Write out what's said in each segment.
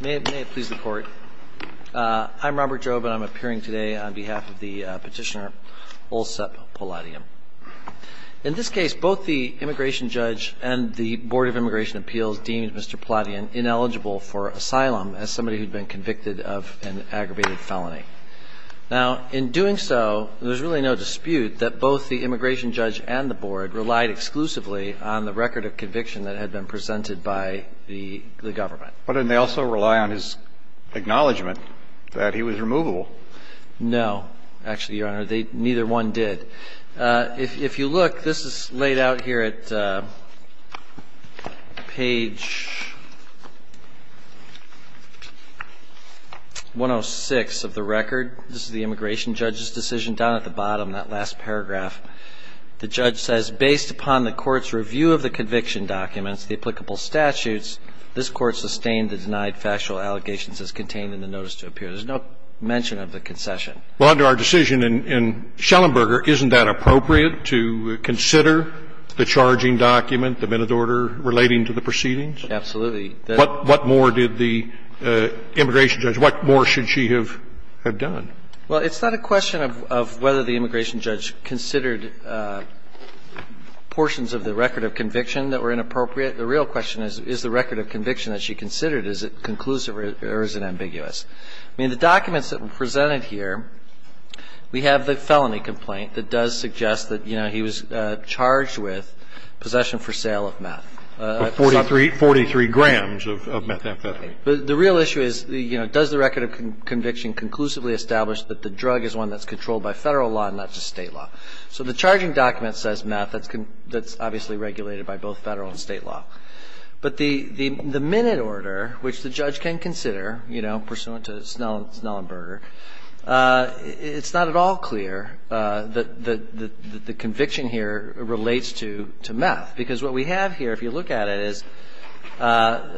May it please the Court, I'm Robert Jobe, and I'm appearing today on behalf of the petitioner Olsep Poladyan. In this case, both the immigration judge and the Board of Immigration Appeals deemed Mr. Poladyan ineligible for asylum as somebody who'd been convicted of an aggravated felony. Now, in doing so, there's really no dispute that both the immigration judge and the board relied exclusively on the record of conviction that had been presented by the government. But didn't they also rely on his acknowledgment that he was removable? No, actually, Your Honor, neither one did. If you look, this is laid out here at page 106 of the record. This is the immigration judge's decision down at the bottom, that last paragraph. The judge says, based upon the court's review of the conviction documents, the applicable statutes, this Court sustained the denied factual allegations as contained in the notice to appear. There's no mention of the concession. Well, under our decision in Schellenberger, isn't that appropriate to consider the charging document, the minute order relating to the proceedings? Absolutely. What more did the immigration judge – what more should she have done? Well, it's not a question of whether the immigration judge considered portions of the record of conviction that were inappropriate. The real question is, is the record of conviction that she considered, is it conclusive or is it ambiguous? I mean, the documents that were presented here, we have the felony complaint that does suggest that, you know, he was charged with possession for sale of meth. Forty-three grams of methamphetamine. Right. But the real issue is, you know, does the record of conviction conclusively establish that the drug is one that's controlled by Federal law and not just State law? So the charging document says meth that's obviously regulated by both Federal and State law. But the minute order, which the judge can consider, you know, pursuant to Schellenberger, it's not at all clear that the conviction here relates to meth. Because what we have here, if you look at it, is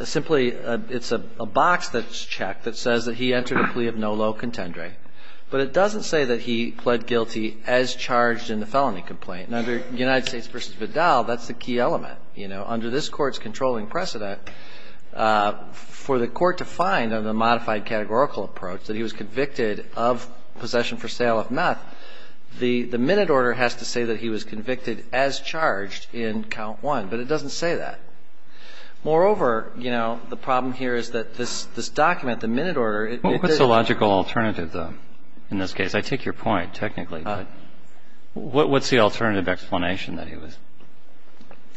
simply it's a box that's checked that says that he entered a plea of no low contendering. But it doesn't say that he pled guilty as charged in the felony complaint. And under United States v. Vidal, that's the key element. You know, under this Court's controlling precedent, for the Court to find on the modified categorical approach that he was convicted of possession for sale of meth, the minute order has to say that he was convicted as charged in count one. But it doesn't say that. Moreover, you know, the problem here is that this document, the minute order, it didn't... What's the logical alternative, though, in this case? I take your point, technically. What's the alternative explanation that he was...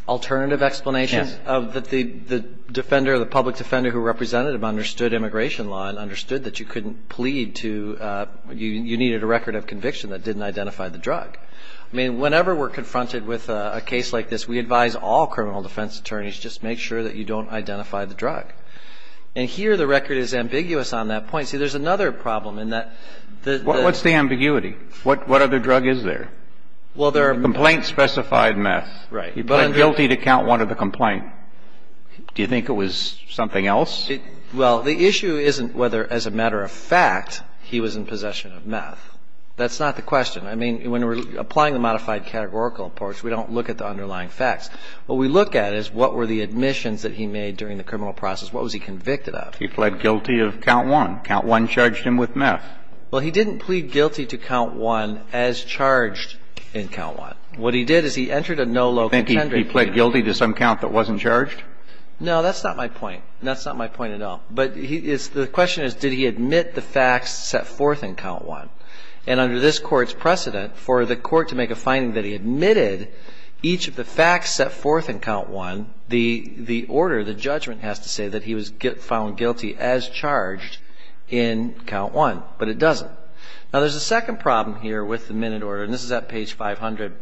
Alternative explanation? Yes. That the defender, the public defender who represented him understood immigration law and understood that you couldn't plead to, you needed a record of conviction that didn't identify the drug. I mean, whenever we're confronted with a case like this, we advise all criminal defense attorneys just make sure that you don't identify the drug. And here the record is ambiguous on that point. See, there's another problem in that... What's the ambiguity? What other drug is there? Well, there are... Complaint-specified meth. Right. He pled guilty to count one of the complaint. Do you think it was something else? Well, the issue isn't whether, as a matter of fact, he was in possession of meth. That's not the question. I mean, when we're applying the modified categorical approach, we don't look at the underlying facts. What we look at is what were the admissions that he made during the criminal process? What was he convicted of? He pled guilty of count one. Count one charged him with meth. Well, he didn't plead guilty to count one as charged in count one. What he did is he entered a no local... You think he pled guilty to some count that wasn't charged? No, that's not my point. That's not my point at all. But the question is, did he admit the facts set forth in count one? And under this court's precedent, for the court to make a finding that he admitted each of the facts set forth in count one, the order, the judgment has to say that he was found guilty as charged in count one. But it doesn't. Now, there's a second problem here with the minute order, and this is at page 500.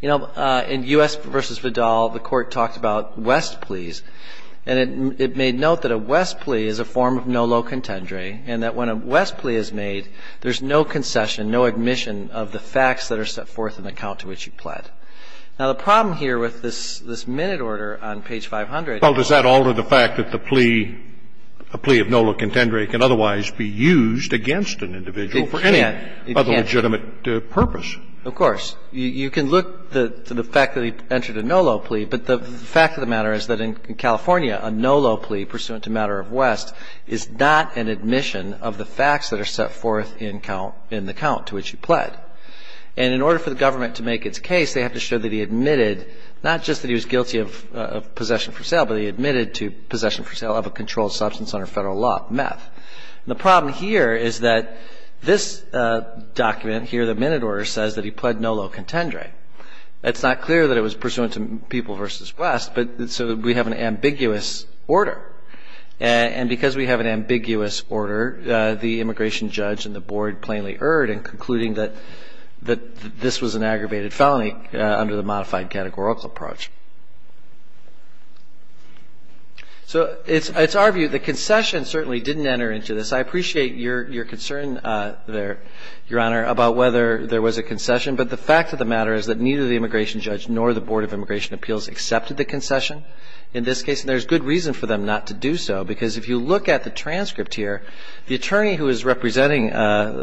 You know, in U.S. v. Vidal, the court talked about West pleas. And it made note that a West plea is a form of no low contendere, and that when a West plea is made, there's no concession, no admission of the facts that are set forth in the count to which he pled. Now, the problem here with this minute order on page 500... Well, does that alter the fact that the plea, a plea of no low contendere can otherwise be used against an individual for any other legitimate purpose? It can't. Of course. You can look to the fact that he entered a no low plea, but the fact of the matter is that in California, a no low plea pursuant to matter of West is not an admission of the facts that are set forth in the count to which he pled. And in order for the government to make its case, they have to show that he admitted not just that he was guilty of possession for sale, but he admitted to possession for sale of a controlled substance under federal law, meth. The problem here is that this document here, the minute order, says that he pled no low contendere. It's not clear that it was pursuant to people v. West, but so we have an ambiguous order. And because we have an ambiguous order, the immigration judge and the board plainly erred in concluding that this was an aggravated felony under the modified categorical approach. So it's our view the concession certainly didn't enter into this. I appreciate your concern there, Your Honor, about whether there was a concession, but the fact of the matter is that neither the immigration judge nor the Board of Immigration Appeals accepted the concession in this case. And there's good reason for them not to do so, because if you look at the transcript here, the attorney who was representing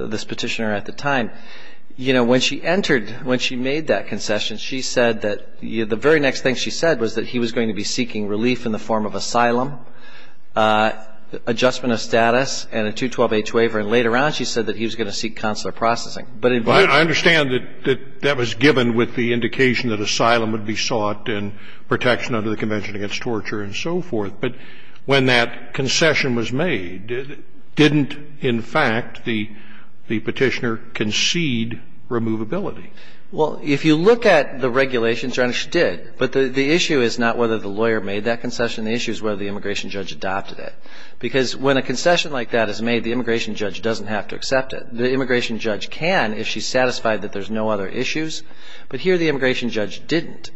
this petitioner at the time, you know, when she entered, when she made that concession, she said that the very next thing she said was that he was going to be seeking relief in the form of asylum, adjustment of status, and a 212-H waiver. And later on, she said that he was going to seek consular processing. But in view of that ---- The immigration judge did not accept the concession, and the immigration judge did not accept the waiver of protection under the Convention against Torture and so forth. But when that concession was made, didn't, in fact, the petitioner concede removability? Well, if you look at the regulations, Your Honor, she did. But the issue is not whether the lawyer made that concession. The issue is whether the immigration judge adopted it. Because when a concession like that is made, the immigration judge doesn't have to accept it. The immigration judge can if she's satisfied that there's no other issues. But here the immigration judge didn't.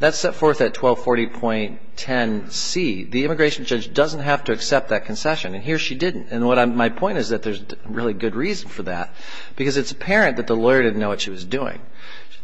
That's set forth at 1240.10c. The immigration judge doesn't have to accept that concession. And here she didn't. And my point is that there's really good reason for that, because it's apparent that the lawyer didn't know what she was doing.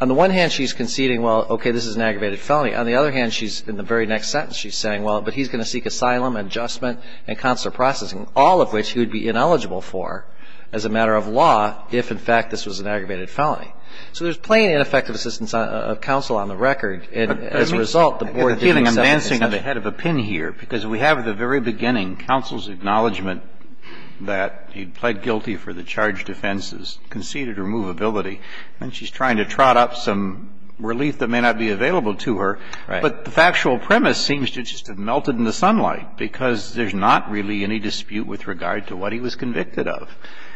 On the one hand, she's conceding, well, okay, this is an aggravated felony. On the other hand, she's, in the very next sentence, she's saying, well, but he's going to seek asylum and adjustment and consular processing, all of which he would be ineligible for as a matter of law if, in fact, this was an aggravated felony. So there's plain ineffective assistance of counsel on the record. And as a result, the board didn't accept it. I have a feeling I'm dancing on the head of a pin here, because we have at the very beginning counsel's acknowledgment that he pled guilty for the charge of offenses, conceded removability. And she's trying to trot up some relief that may not be available to her. Right. But the factual premise seems to just have melted in the sunlight, because there's not really any dispute with regard to what he was convicted of.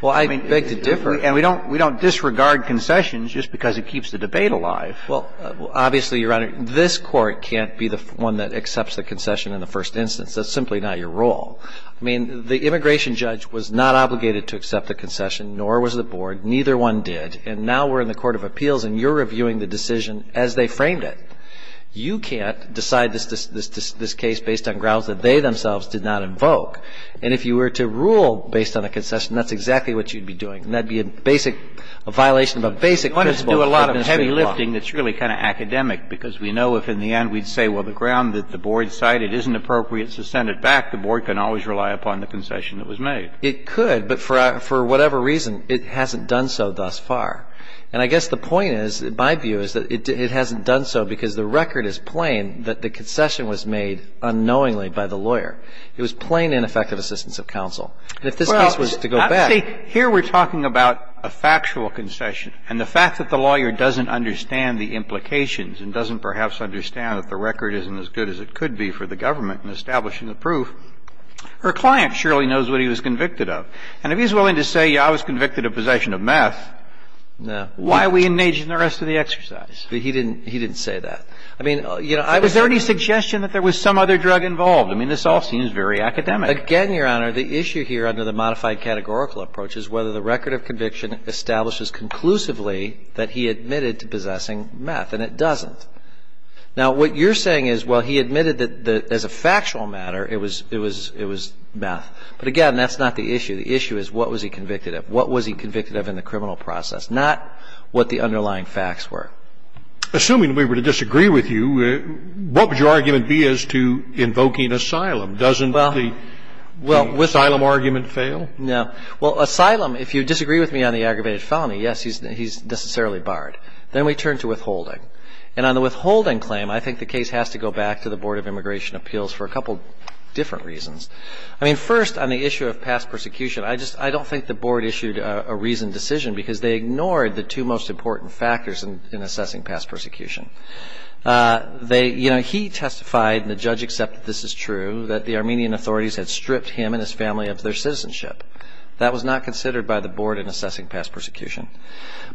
Well, I beg to differ. And we don't disregard concessions just because it keeps the debate alive. Well, obviously, Your Honor, this Court can't be the one that accepts the concession in the first instance. That's simply not your role. I mean, the immigration judge was not obligated to accept the concession, nor was the board. Neither one did. And now we're in the court of appeals, and you're reviewing the decision as they framed it. You can't decide this case based on grounds that they themselves did not invoke. And if you were to rule based on a concession, that's exactly what you'd be doing. And that'd be a basic violation of a basic principle of a court of appeals. You don't have to do a lot of heavy lifting that's really kind of academic, because we know if in the end we'd say, well, the ground that the board cited isn't appropriate, so send it back, the board can always rely upon the concession that was made. It could. But for whatever reason, it hasn't done so thus far. And I guess the point is, my view is, that it hasn't done so because the record is plain that the concession was made unknowingly by the lawyer. It was plain ineffective assistance of counsel. And if this case was to go back to the court of appeals, that's exactly what you'd be doing. Well, see, here we're talking about a factual concession. And the fact that the lawyer doesn't understand the implications and doesn't perhaps understand that the record isn't as good as it could be for the government in establishing the proof, her client surely knows what he was convicted of. And if he's willing to say, yeah, I was convicted of possession of meth, why are we engaging in the rest of the exercise? He didn't say that. I mean, you know, I was Was there any suggestion that there was some other drug involved? I mean, this all seems very academic. Again, Your Honor, the issue here under the modified categorical approach is whether the record of conviction establishes conclusively that he admitted to possessing meth. And it doesn't. Now, what you're saying is, well, he admitted that as a factual matter it was meth. But again, that's not the issue. The issue is what was he convicted of? What was he convicted of in the criminal process? Not what the underlying facts were. Assuming we were to disagree with you, what would your argument be as to invoking asylum? Doesn't the asylum argument fail? Well, asylum, if you disagree with me on the aggravated felony, yes, he's necessarily barred. Then we turn to withholding. And on the withholding claim, I think the case has to go back to the Board of Immigration Appeals for a couple different reasons. I mean, first, on the issue of past persecution, I don't think the Board issued a reasoned decision because they ignored the two most important factors in assessing past persecution. He testified, and the judge accepted this is true, that the Armenian authorities had stripped him and his family of their citizenship. That was not considered by the Board in assessing past persecution.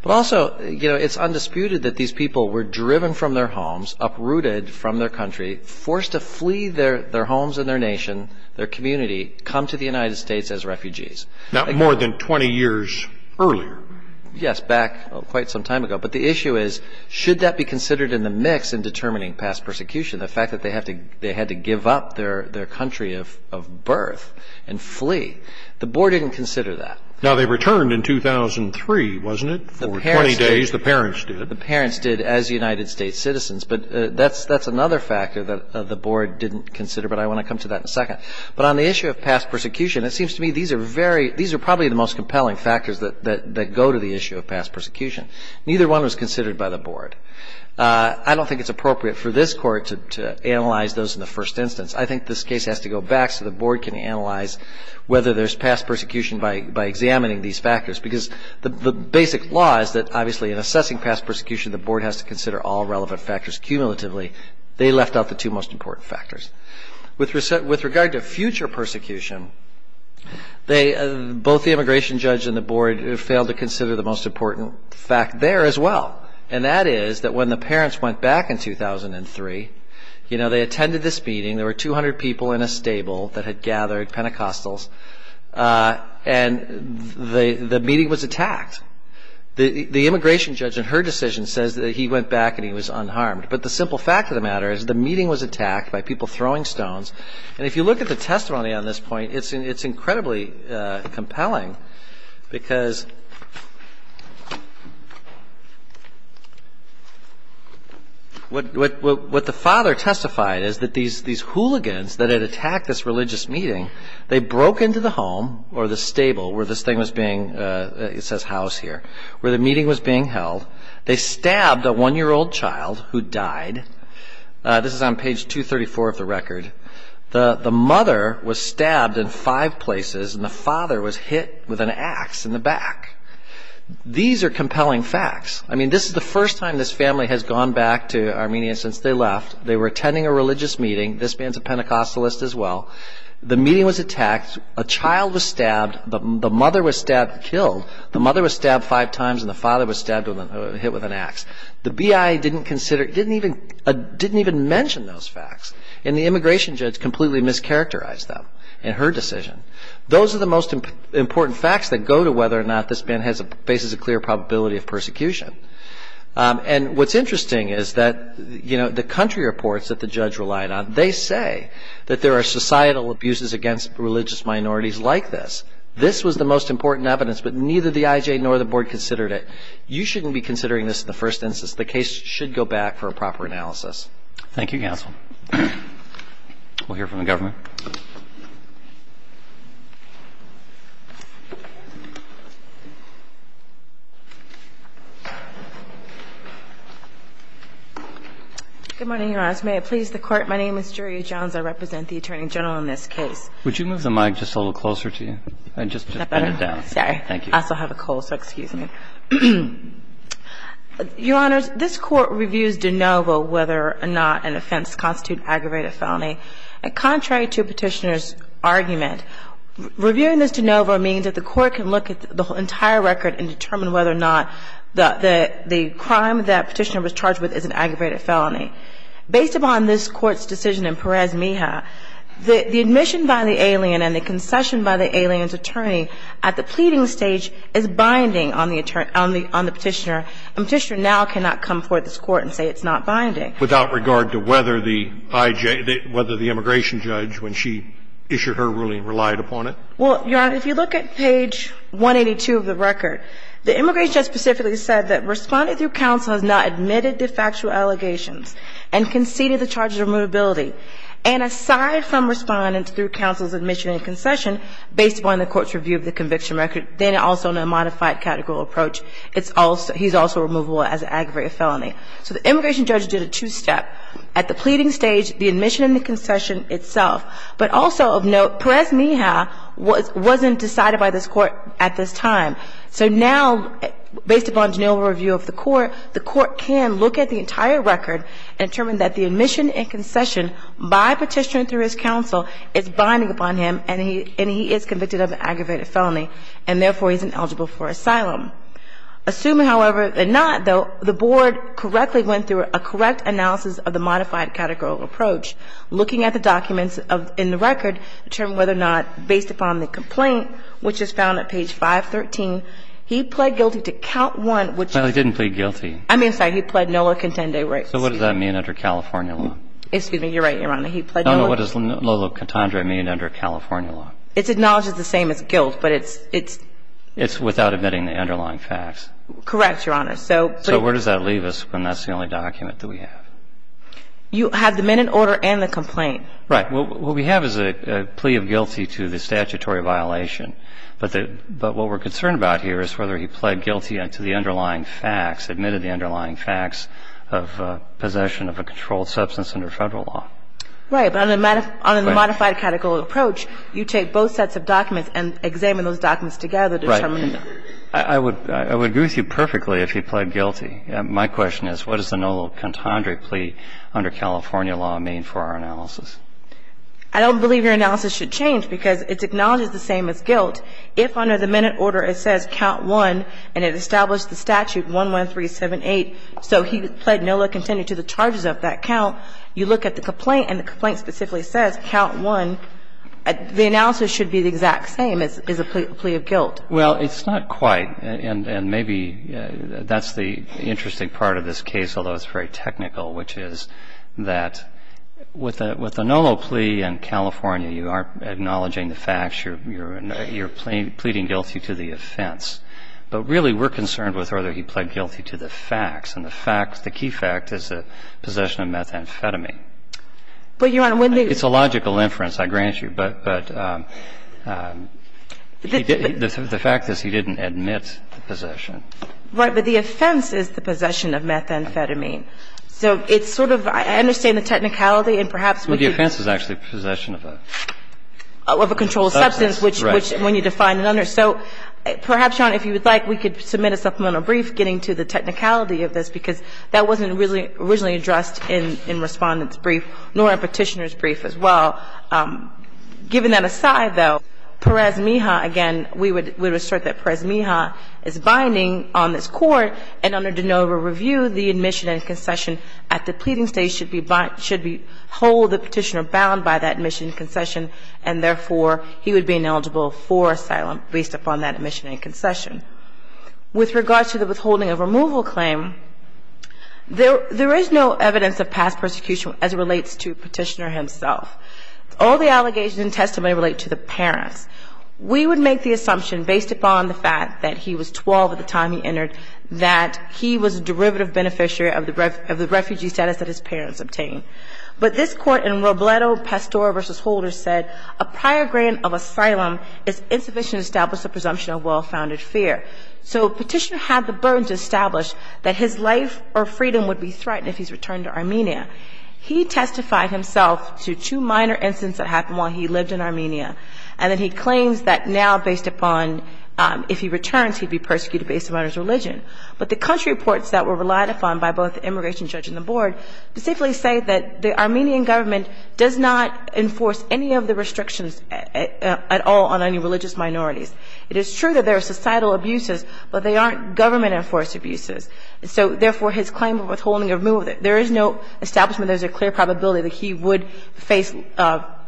But also, it's undisputed that these people were driven from their homes, uprooted from their country, forced to flee their homes and their nation, their community, come to the United States as refugees. Now, more than 20 years earlier. Yes, back quite some time ago. But the issue is, should that be considered in the mix in determining past persecution? The fact that they had to give up their country of birth and flee. The Board didn't consider that. Now, they returned in 2003, wasn't it? For 20 days, the parents did. As United States citizens. But that's another factor that the Board didn't consider. But I want to come to that in a second. But on the issue of past persecution, it seems to me these are probably the most compelling factors that go to the issue of past persecution. Neither one was considered by the Board. I don't think it's appropriate for this Court to analyze those in the first instance. I think this case has to go back so the Board can analyze whether there's past persecution by examining these factors. Because the basic law is that, obviously, in assessing past persecution, the Board has to consider all relevant factors cumulatively. They left out the two most important factors. With regard to future persecution, both the immigration judge and the Board failed to consider the most important fact there as well. And that is that when the parents went back in 2003, they attended this meeting. There were 200 people in a stable that had gathered Pentecostals. And the meeting was attacked. The immigration judge, in her decision, says that he went back and he was unharmed. But the simple fact of the matter is the meeting was attacked by people throwing stones. And if you look at the testimony on this point, it's incredibly compelling. Because what the father testified is that these hooligans that had attacked this family, they broke into the home or the stable where this thing was being, it says house here, where the meeting was being held. They stabbed a one-year-old child who died. This is on page 234 of the record. The mother was stabbed in five places and the father was hit with an ax in the back. These are compelling facts. I mean, this is the first time this family has gone back to Armenia since they left. They were attending a religious meeting. This man's a Pentecostalist as well. The meeting was attacked. A child was stabbed. The mother was stabbed and killed. The mother was stabbed five times and the father was stabbed and hit with an ax. The BIA didn't consider, didn't even mention those facts. And the immigration judge completely mischaracterized them in her decision. Those are the most important facts that go to whether or not this man faces a clear probability of persecution. And what's interesting is that the country reports that the judge relied on, they say, that there are societal abuses against religious minorities like this. This was the most important evidence, but neither the IJ nor the board considered it. You shouldn't be considering this in the first instance. The case should go back for a proper analysis. Thank you, counsel. We'll hear from the government. Good morning, Your Honor. As may it please the Court, my name is Juria Jones. I represent the Attorney General in this case. Would you move the mic just a little closer to you? I just- Is that better? Sorry. Thank you. I also have a cold, so excuse me. Your Honors, this court reviews de novo whether or not an offense constitute aggravated felony. Contrary to petitioner's argument, reviewing this de novo means that the court can look at the entire record and determine whether or not the crime that petitioner was charged with is an aggravated felony. Based upon this Court's decision in Perez-Mija, the admission by the alien and the concession by the alien's attorney at the pleading stage is binding on the petitioner. A petitioner now cannot come forward to this Court and say it's not binding. Without regard to whether the IJ – whether the immigration judge, when she issued her ruling, relied upon it? Well, Your Honor, if you look at page 182 of the record, the immigration judge specifically said that, Responding through counsel has not admitted de facto allegations and conceded the charges of remotability. And aside from responding through counsel's admission and concession, based upon the Court's review of the conviction record, then also in a modified categorical approach, it's also – he's also removable as an aggravated felony. So the immigration judge did a two-step. At the pleading stage, the admission and the concession itself. But also of note, Perez-Mija wasn't decided by this Court at this time. So now, based upon Janelle's review of the Court, the Court can look at the entire record and determine that the admission and concession by petitioner through his counsel is binding upon him, and he is convicted of an aggravated felony, and therefore he's ineligible for asylum. Assuming, however, that not, though, the Board correctly went through a correct analysis of the modified categorical approach, looking at the documents in the record, determining whether or not, based upon the complaint, which is found at page 513, he pled guilty to count one, which is – Well, he didn't plead guilty. I mean, sorry, he pled nola contende, right? So what does that mean under California law? Excuse me, you're right, Your Honor. He pled nola – No, no, what does nola contende mean under California law? It's acknowledged as the same as guilt, but it's – it's – It's without admitting the underlying facts. Correct, Your Honor. So – So where does that leave us when that's the only document that we have? You have the men in order and the complaint. Right. What we have is a plea of guilty to the statutory violation. But the – but what we're concerned about here is whether he pled guilty to the underlying facts, admitted the underlying facts of possession of a controlled substance under Federal law. Right. But on the modified categorical approach, you take both sets of documents and examine those documents together to determine – Right. I would – I would agree with you perfectly if he pled guilty. My question is, what does the nola contende plea under California law mean for our analysis? I don't believe your analysis should change because it's acknowledged as the same as guilt. If under the men in order it says count one and it established the statute 11378, so he pled nola contende to the charges of that count, you look at the complaint and the complaint specifically says count one, the analysis should be the exact same as a plea of guilt. Well, it's not quite, and maybe that's the interesting part of this case, although it's very technical, which is that with the – with the nola plea in California, you aren't acknowledging the facts. You're – you're pleading guilty to the offense. But really we're concerned with whether he pled guilty to the facts. And the facts – the key fact is the possession of methamphetamine. But, Your Honor, when the – It's a logical inference, I grant you. But – but the fact is he didn't admit the possession. Right. But the offense is the possession of methamphetamine. So it's sort of – I understand the technicality and perhaps with the – But the offense is actually possession of a – Of a controlled substance, which – which when you define an under – So perhaps, Your Honor, if you would like, we could submit a supplemental brief getting to the technicality of this because that wasn't really – originally addressed in – in Respondent's brief, nor in Petitioner's brief as well. Given that aside, though, Perez-Mija, again, we would – we would assert that Perez-Mija is binding on this court and under de novo review, the admission and concession at the pleading stage should be – should be – hold the Petitioner bound by that admission and concession and therefore he would be ineligible for asylum based upon that admission and concession. With regard to the withholding of removal claim, there – there is no evidence of past persecution as it relates to Petitioner himself. All the allegations in testimony relate to the parents. We would make the assumption based upon the fact that he was 12 at the time he entered that he was a derivative beneficiary of the – of the refugee status that his parents obtained. But this court in Robledo-Pastora v. Holder said, a prior grant of asylum is insufficient to establish the presumption of well-founded fear. So Petitioner had the burden to establish that his life or freedom would be threatened if he's returned to Armenia. He testified himself to two minor incidents that happened while he lived in Armenia and then he claims that now based upon if he returns, he'd be persecuted based upon his religion. But the country reports that were relied upon by both the immigration judge and the board specifically say that the Armenian government does not enforce any of the restrictions at all on any religious minorities. It is true that there are societal abuses, but they aren't government enforced abuses. So, therefore, his claim of withholding or removal, there is no establishment there's a clear probability that he would face –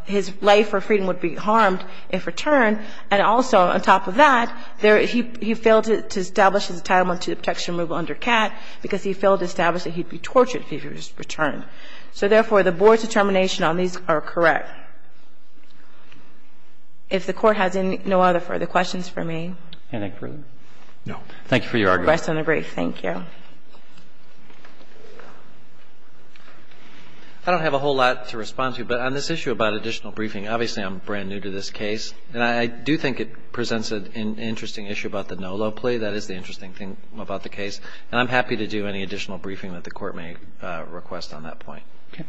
his life or freedom would be harmed if returned, and also on top of that, there – he failed to establish his entitlement to protection and removal under CAT because he failed to establish that he'd be tortured if he was returned. So, therefore, the board's determination on these are correct. If the Court has any – no other further questions for me? Roberts. Can I take further? No. Thank you for your argument. You may rest on the brief. Thank you. I don't have a whole lot to respond to, but on this issue about additional briefing, obviously, I'm brand new to this case. And I do think it presents an interesting issue about the no low plea. That is the interesting thing about the case. And I'm happy to do any additional briefing that the Court may request on that point. Okay.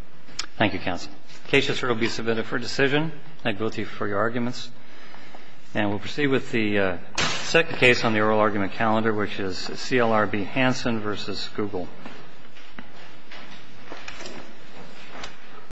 Thank you, counsel. The case has now been submitted for decision. Thank both of you for your arguments. And we'll proceed with the second case on the oral argument calendar, which is CLRB Hansen v. Google.